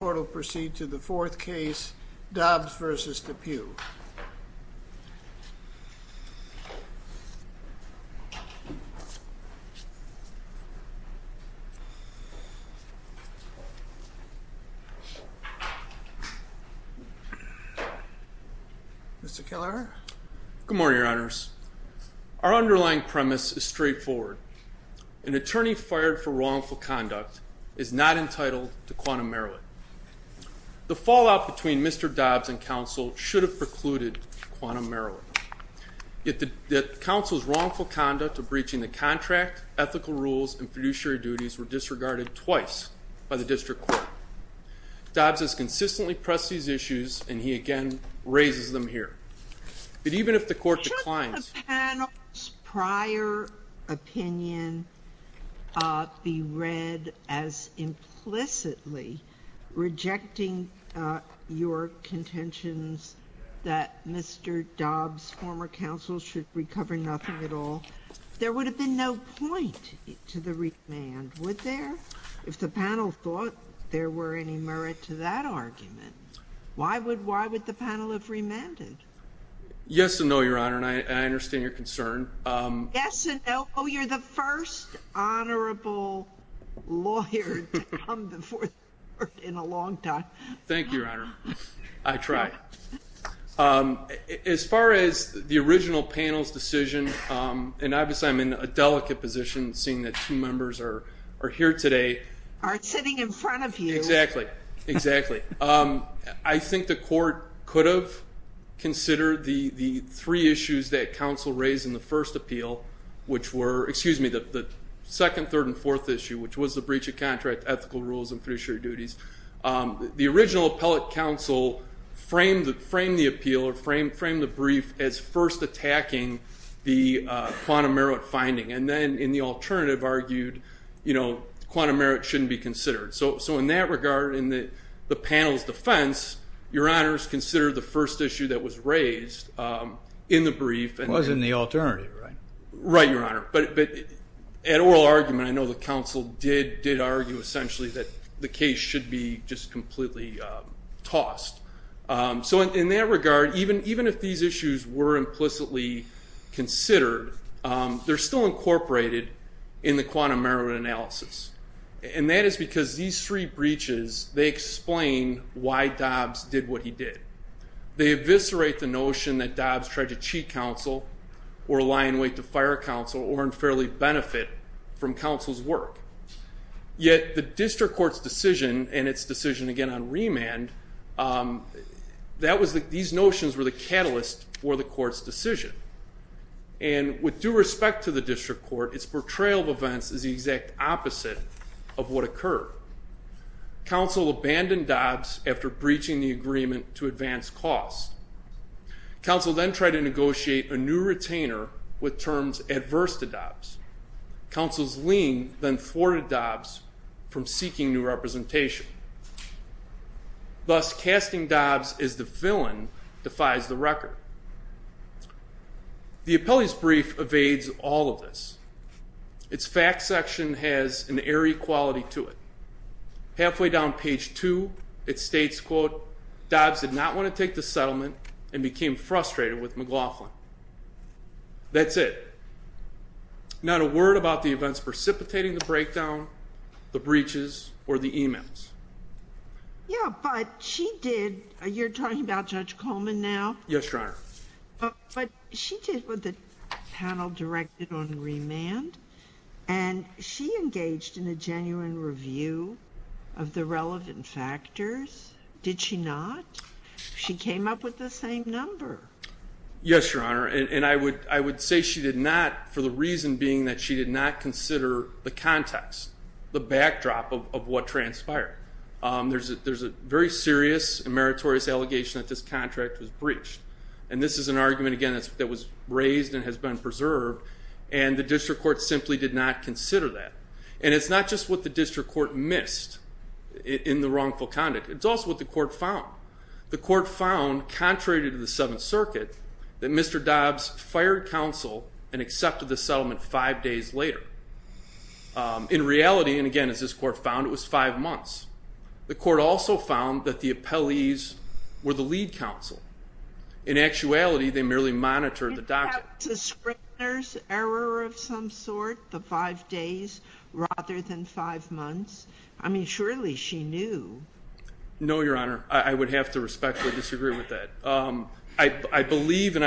The court will proceed to the fourth case, Dobbs v. Depuy. Mr. Keller? Good morning, Your Honors. Our underlying premise is straightforward. An attorney fired for wrongful conduct is not entitled to quantum merit. The fallout between Mr. Dobbs and counsel should have precluded quantum merit. Yet the counsel's wrongful conduct of breaching the contract, ethical rules, and fiduciary duties were disregarded twice by the district court. Dobbs has consistently pressed these issues, and he again raises them here. But even if the court declines Shouldn't the panel's prior opinion be read as implicitly rejecting your contentions that Mr. Dobbs, former counsel, should recover nothing at all? There would have been no point to the remand, would there? If the panel thought there were any merit to that argument, why would the panel have remanded? Yes and no, Your Honor, and I understand your concern. Yes and no. You're the first honorable lawyer to come before the court in a long time. Thank you, Your Honor. I try. As far as the original panel's decision, and obviously I'm in a delicate position seeing that two members are here today. Are sitting in front of you. Exactly, exactly. I think the court could have considered the three issues that counsel raised in the first appeal, which were, excuse me, the second, third, and fourth issue, which was the breach of contract, ethical rules, and fiduciary duties. The original appellate counsel framed the appeal, or framed the brief, as first attacking the quantum merit finding, and then in the alternative argued quantum merit shouldn't be considered. So in that regard, in the panel's defense, Your Honor's considered the first issue that was raised in the brief. It was in the alternative, right? Right, Your Honor, but at oral argument, I know the counsel did argue essentially that the case should be just completely tossed. So in that regard, even if these issues were implicitly considered, they're still incorporated in the quantum merit analysis, and that is because these three breaches, they explain why Dobbs did what he did. They eviscerate the notion that Dobbs tried to cheat counsel, or lie in wait to fire counsel, or unfairly benefit from counsel's work. Yet the district court's decision, and its decision again on remand, these notions were the catalyst for the court's decision. And with due respect to the district court, its portrayal of events is the exact opposite of what occurred. Counsel abandoned Dobbs after breaching the agreement to advance costs. Counsel then tried to negotiate a new retainer with terms adverse to Dobbs. Counsel's lien then thwarted Dobbs from seeking new representation. Thus, casting Dobbs as the villain defies the record. The appellee's brief evades all of this. Its fact section has an airy quality to it. Halfway down page 2, it states, Dobbs did not want to take the settlement and became frustrated with McLaughlin. That's it. Not a word about the events precipitating the breakdown, the breaches, or the emails. Yeah, but she did. You're talking about Judge Coleman now? Yes, Your Honor. But she did what the panel directed on remand, and she engaged in a genuine review of the relevant factors, did she not? She came up with the same number. Yes, Your Honor, and I would say she did not, for the reason being that she did not consider the context, the backdrop of what transpired. There's a very serious and meritorious allegation that this contract was breached, and this is an argument, again, that was raised and has been preserved, and the district court simply did not consider that. And it's not just what the district court missed in the wrongful conduct. It's also what the court found. The court found, contrary to the Seventh Circuit, that Mr. Dobbs fired counsel and accepted the settlement five days later. In reality, and again, as this court found, it was five months. The court also found that the appellees were the lead counsel. In actuality, they merely monitored the document. Is that the Scribner's error of some sort, the five days rather than five months? I mean, surely she knew. No, Your Honor, I would have to respectfully disagree with that. I believe, and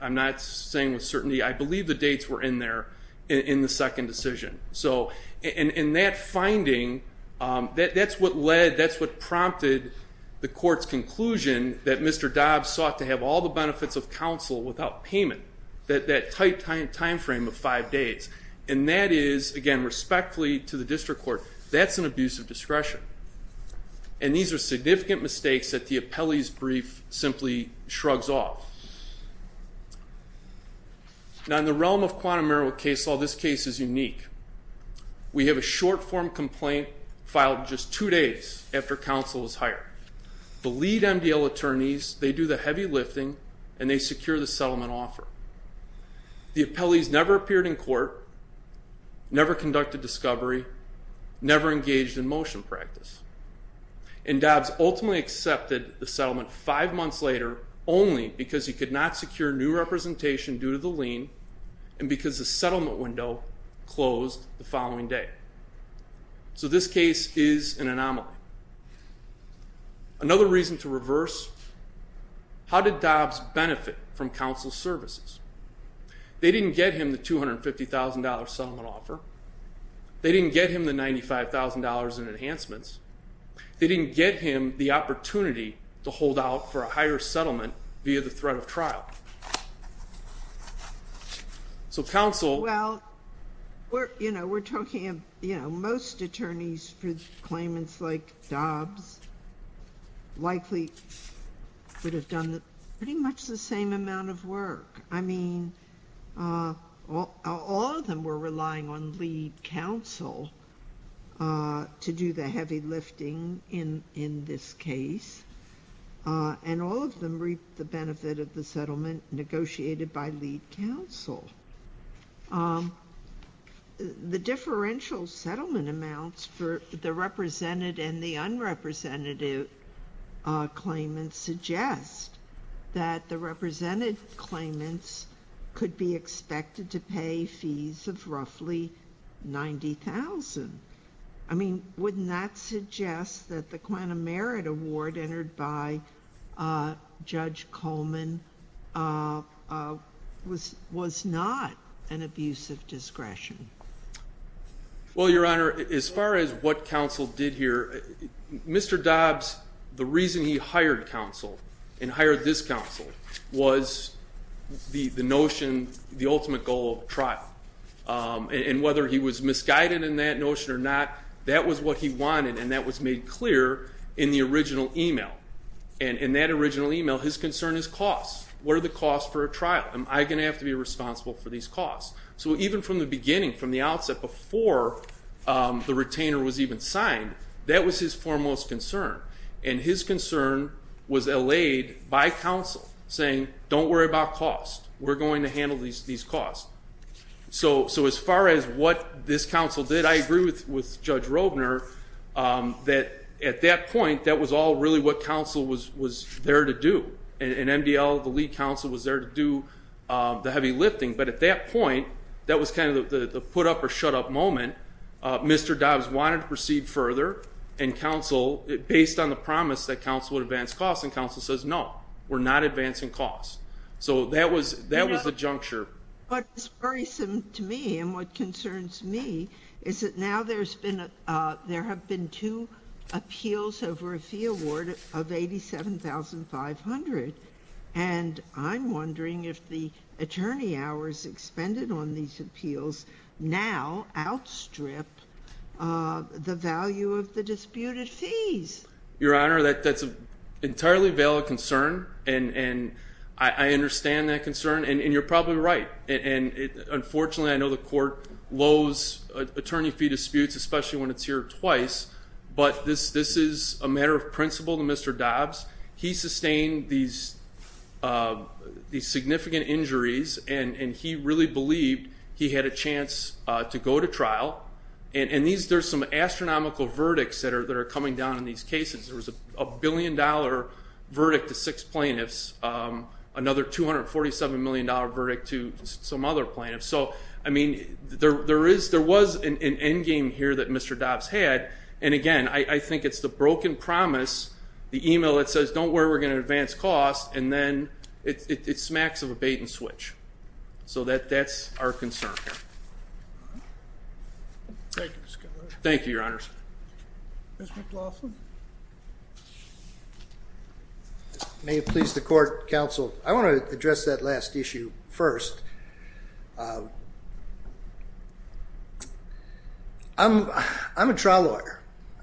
I'm not saying with certainty, I believe the dates were in there in the second decision. And that finding, that's what led, that's what prompted the court's conclusion that Mr. Dobbs sought to have all the benefits of counsel without payment, that tight timeframe of five days. And that is, again, respectfully to the district court, that's an abuse of discretion. And these are significant mistakes that the appellee's brief simply shrugs off. Now, in the realm of quantum error with case law, this case is unique. We have a short-form complaint filed just two days after counsel was hired. The lead MDL attorneys, they do the heavy lifting, and they secure the settlement offer. The appellees never appeared in court, never conducted discovery, never engaged in motion practice. And Dobbs ultimately accepted the settlement five months later only because he could not secure new representation due to the lien and because the settlement window closed the following day. So this case is an anomaly. Another reason to reverse, how did Dobbs benefit from counsel's services? They didn't get him the $250,000 settlement offer. They didn't get him the $95,000 in enhancements. They didn't get him the opportunity to hold out for a higher settlement via the threat of trial. So counsel. Well, you know, we're talking, you know, most attorneys for claimants like Dobbs likely would have done pretty much the same amount of work. I mean, all of them were relying on lead counsel to do the heavy lifting in this case, and all of them reaped the benefit of the settlement negotiated by lead counsel. The differential settlement amounts for the represented and the unrepresentative claimants suggest that the represented claimants could be expected to pay fees of roughly $90,000. I mean, wouldn't that suggest that the quantum merit award entered by Judge Coleman was not an abuse of discretion? Well, Your Honor, as far as what counsel did here, Mr. Dobbs, the reason he hired counsel and hired this counsel was the notion, the ultimate goal of the trial. And whether he was misguided in that notion or not, that was what he wanted, and that was made clear in the original email. And in that original email, his concern is costs. What are the costs for a trial? Am I going to have to be responsible for these costs? So even from the beginning, from the outset, before the retainer was even signed, that was his foremost concern. And his concern was allayed by counsel, saying, don't worry about costs. We're going to handle these costs. So as far as what this counsel did, I agree with Judge Robner that at that point, that was all really what counsel was there to do. And MDL, the lead counsel, was there to do the heavy lifting. But at that point, that was kind of the put-up-or-shut-up moment. Mr. Dobbs wanted to proceed further, and counsel, based on the promise that counsel would advance costs. And counsel says, no, we're not advancing costs. So that was the juncture. But it's worrisome to me, and what concerns me, is that now there have been two appeals over a fee award of $87,500. And I'm wondering if the attorney hours expended on these appeals now outstrip the value of the disputed fees. Your Honor, that's an entirely valid concern. And I understand that concern, and you're probably right. And unfortunately, I know the court loathes attorney fee disputes, especially when it's here twice. But this is a matter of principle to Mr. Dobbs. He sustained these significant injuries, and he really believed he had a chance to go to trial. And there's some astronomical verdicts that are coming down in these cases. There was a billion-dollar verdict to six plaintiffs, another $247 million verdict to some other plaintiffs. So, I mean, there was an endgame here that Mr. Dobbs had. And, again, I think it's the broken promise, the email that says don't worry, we're going to advance costs, and then it smacks of a bait-and-switch. So that's our concern here. Thank you, Mr. Keller. Thank you, Your Honor. Mr. McLaughlin. May it please the Court, Counsel, I want to address that last issue first. I'm a trial lawyer.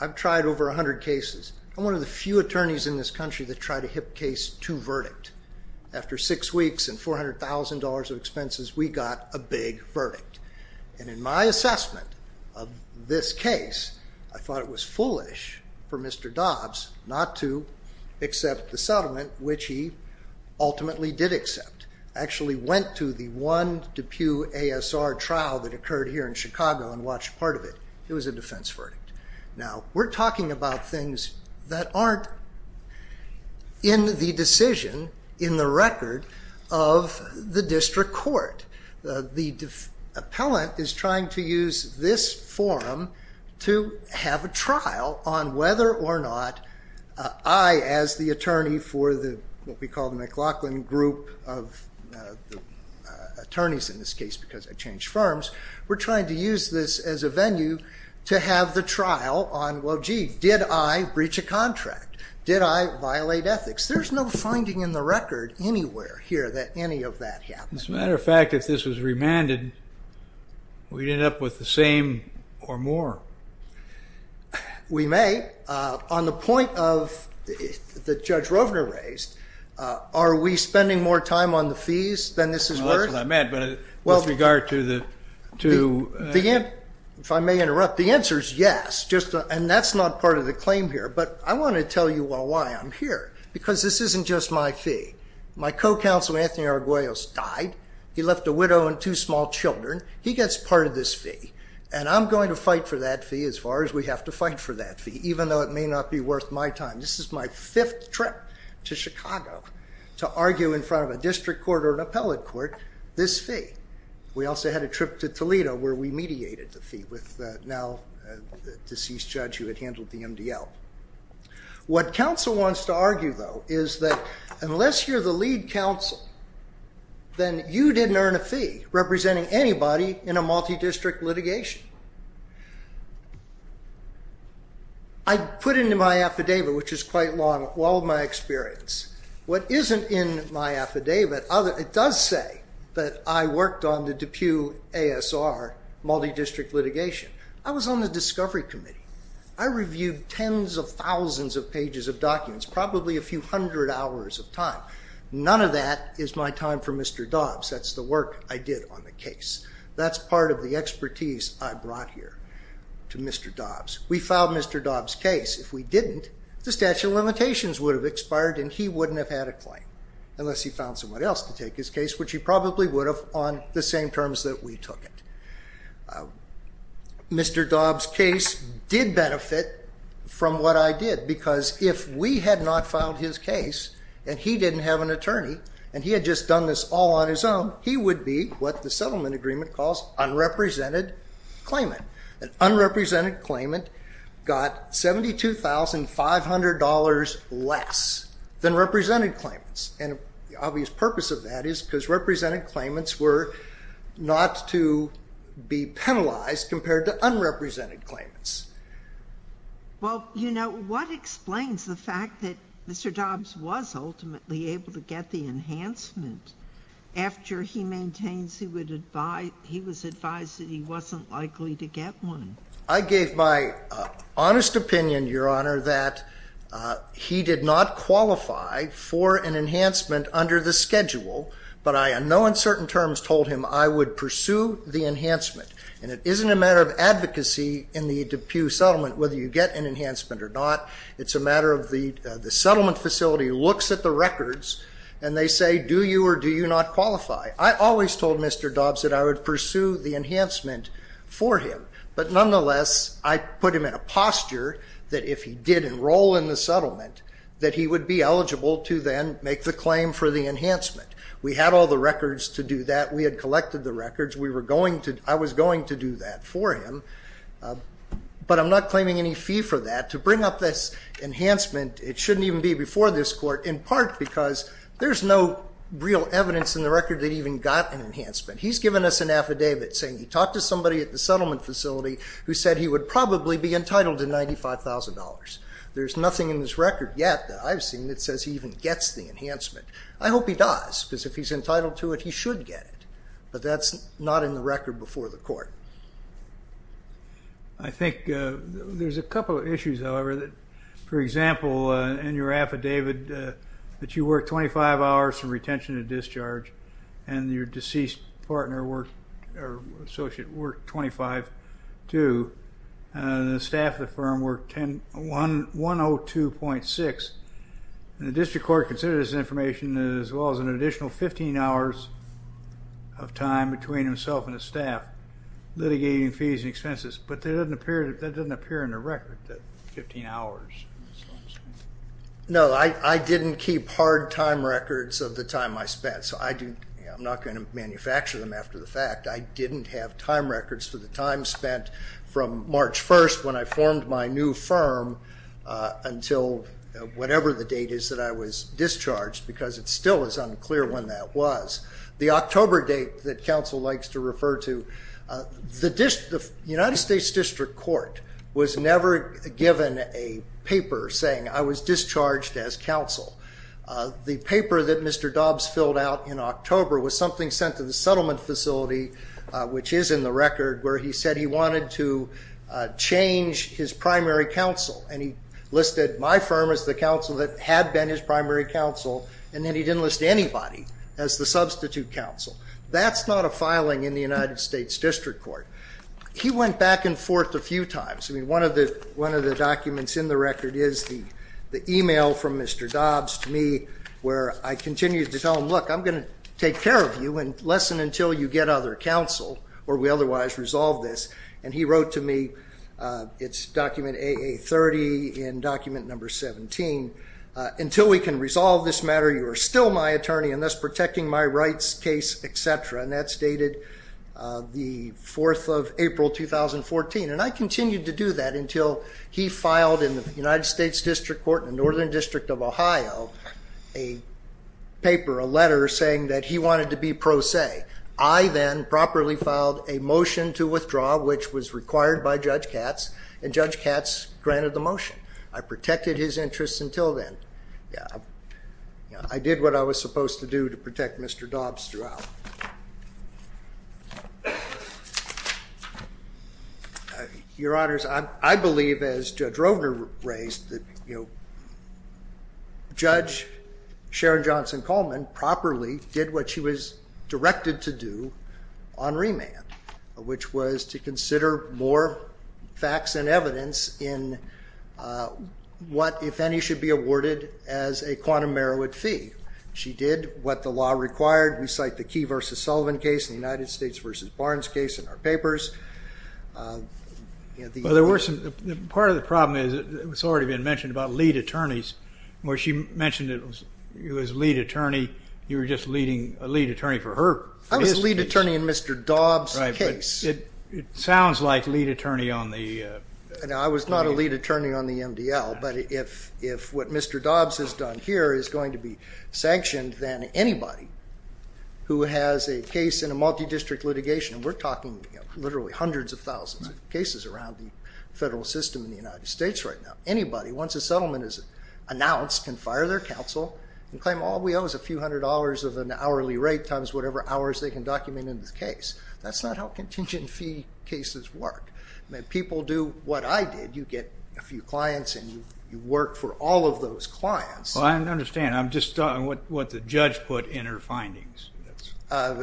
I've tried over 100 cases. I'm one of the few attorneys in this country that tried a hip case to verdict. After six weeks and $400,000 of expenses, we got a big verdict. And in my assessment of this case, I thought it was foolish for Mr. Dobbs not to accept the settlement, which he ultimately did accept. I actually went to the one DePue ASR trial that occurred here in Chicago and watched part of it. It was a defense verdict. Now, we're talking about things that aren't in the decision, in the record of the district court. The appellant is trying to use this forum to have a trial on whether or not I, as the attorney for what we call the McLaughlin group of attorneys in this case because I changed firms, we're trying to use this as a venue to have the trial on, well, gee, did I breach a contract? Did I violate ethics? There's no finding in the record anywhere here that any of that happened. As a matter of fact, if this was remanded, we'd end up with the same or more. We may. On the point that Judge Rovner raised, are we spending more time on the fees than this is worth? That's what I meant, but with regard to the ‑‑ if I may interrupt, the answer is yes, and that's not part of the claim here, but I want to tell you why I'm here because this isn't just my fee. My co‑counsel, Anthony Arguellos, died. He left a widow and two small children. He gets part of this fee, and I'm going to fight for that fee as far as we have to fight for that fee, even though it may not be worth my time. This is my fifth trip to Chicago to argue in front of a district court or an appellate court this fee. We also had a trip to Toledo where we mediated the fee with now a deceased judge who had handled the MDL. What counsel wants to argue, though, is that unless you're the lead counsel, then you didn't earn a fee representing anybody in a multidistrict litigation. I put into my affidavit, which is quite long, all of my experience. What isn't in my affidavit, it does say that I worked on the DePue ASR multidistrict litigation. I was on the discovery committee. I reviewed tens of thousands of pages of documents, probably a few hundred hours of time. None of that is my time for Mr. Dobbs. That's the work I did on the case. That's part of the expertise I brought here to Mr. Dobbs. We filed Mr. Dobbs' case. If we didn't, the statute of limitations would have expired and he wouldn't have had a claim unless he found someone else to take his case, which he probably would have on the same terms that we took it. Mr. Dobbs' case did benefit from what I did because if we had not filed his case and he didn't have an attorney and he had just done this all on his own, he would be what the settlement agreement calls unrepresented claimant. An unrepresented claimant got $72,500 less than represented claimants. And the obvious purpose of that is because represented claimants were not to be penalized compared to unrepresented claimants. Well, you know, what explains the fact that Mr. Dobbs was ultimately able to get the enhancement after he maintains he was advised that he wasn't likely to get one? I gave my honest opinion, Your Honor, that he did not qualify for an enhancement under the schedule, but I in no uncertain terms told him I would pursue the enhancement. And it isn't a matter of advocacy in the DePue settlement whether you get an enhancement or not. It's a matter of the settlement facility looks at the records and they say, do you or do you not qualify? I always told Mr. Dobbs that I would pursue the enhancement for him. But nonetheless, I put him in a posture that if he did enroll in the settlement, that he would be eligible to then make the claim for the enhancement. We had all the records to do that. We had collected the records. We were going to, I was going to do that for him. But I'm not claiming any fee for that. To bring up this enhancement, it shouldn't even be before this court in part because there's no real evidence in the record that he even got an enhancement. He's given us an affidavit saying he talked to somebody at the settlement facility who said he would probably be entitled to $95,000. There's nothing in this record yet that I've seen that says he even gets the enhancement. I hope he does because if he's entitled to it, he should get it. But that's not in the record before the court. I think there's a couple of issues, however, that, for example, in your affidavit that you worked 25 hours from retention to discharge and your deceased partner or associate worked 25 too. The staff of the firm worked 102.6. The district court considered this information as well as an additional 15 hours of time between himself and his staff litigating fees and expenses. But that doesn't appear in the record, that 15 hours. No, I didn't keep hard time records of the time I spent, so I'm not going to manufacture them after the fact. I didn't have time records for the time spent from March 1st when I formed my new firm until whatever the date is that I was discharged because it's still as unclear when that was. The October date that counsel likes to refer to, the United States District Court was never given a paper saying I was discharged as counsel. The paper that Mr. Dobbs filled out in October was something sent to the settlement facility, which is in the record, where he said he wanted to change his primary counsel. And he listed my firm as the counsel that had been his primary counsel, and then he didn't list anybody as the substitute counsel. That's not a filing in the United States District Court. He went back and forth a few times. I mean, one of the documents in the record is the e-mail from Mr. Dobbs to me where I continued to tell him, look, I'm going to take care of you and listen until you get other counsel, or we otherwise resolve this. And he wrote to me, it's document AA30 in document number 17, until we can resolve this matter, you are still my attorney, and thus protecting my rights case, et cetera. And that's dated the 4th of April, 2014. And I continued to do that until he filed in the United States District Court in the Northern District of Ohio a paper, a letter saying that he wanted to be pro se. I then properly filed a motion to withdraw, which was required by Judge Katz, and Judge Katz granted the motion. I protected his interests until then. I did what I was supposed to do to protect Mr. Dobbs throughout. Your Honors, I believe, as Judge Rovner raised, that Judge Sharon Johnson Coleman properly did what she was directed to do on remand, which was to consider more facts and evidence in what, if any, should be awarded as a quantum Merowith fee. She did what the law required. We cite the Key v. Sullivan case and the United States v. Barnes case in our papers. Well, part of the problem is it's already been mentioned about lead attorneys, where she mentioned it was lead attorney, you were just leading a lead attorney for her. I was a lead attorney in Mr. Dobbs' case. Right, but it sounds like lead attorney on the. I was not a lead attorney on the MDL, but if what Mr. Dobbs has done here is going to be sanctioned, then anybody who has a case in a multi-district litigation, and we're talking literally hundreds of thousands of cases around the federal system in the United States right now, anybody, once a settlement is announced, can fire their counsel and claim all we owe is a few hundred dollars of an hourly rate times whatever hours they can document in this case. That's not how contingent fee cases work. People do what I did. You get a few clients and you work for all of those clients. Well, I understand. I'm just talking about what the judge put in her findings. Well,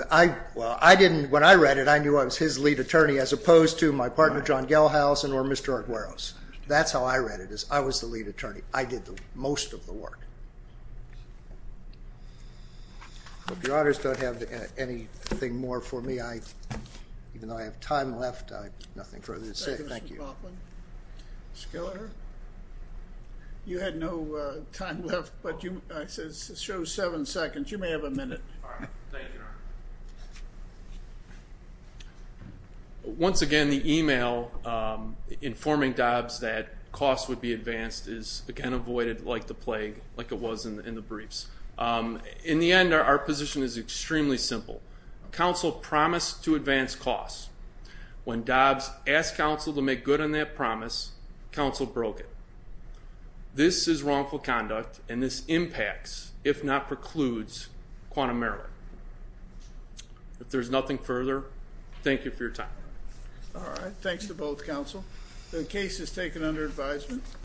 when I read it, I knew I was his lead attorney as opposed to my partner, John Gelhausen, or Mr. Aguero's. That's how I read it, is I was the lead attorney. I did most of the work. I hope your honors don't have anything more for me. Even though I have time left, I have nothing further to say. Thank you. Thank you, Mr. Baughman. Schiller? You had no time left, but I said show seven seconds. You may have a minute. All right. Thank you, Your Honor. Once again, the email informing Dobbs that costs would be advanced is, again, avoided like the plague, like it was in the briefs. In the end, our position is extremely simple. Counsel promised to advance costs. When Dobbs asked counsel to make good on that promise, counsel broke it. This is wrongful conduct, and this impacts, if not precludes, quantum error. If there's nothing further, thank you for your time. All right. Thanks to both counsel. The case is taken under advisement.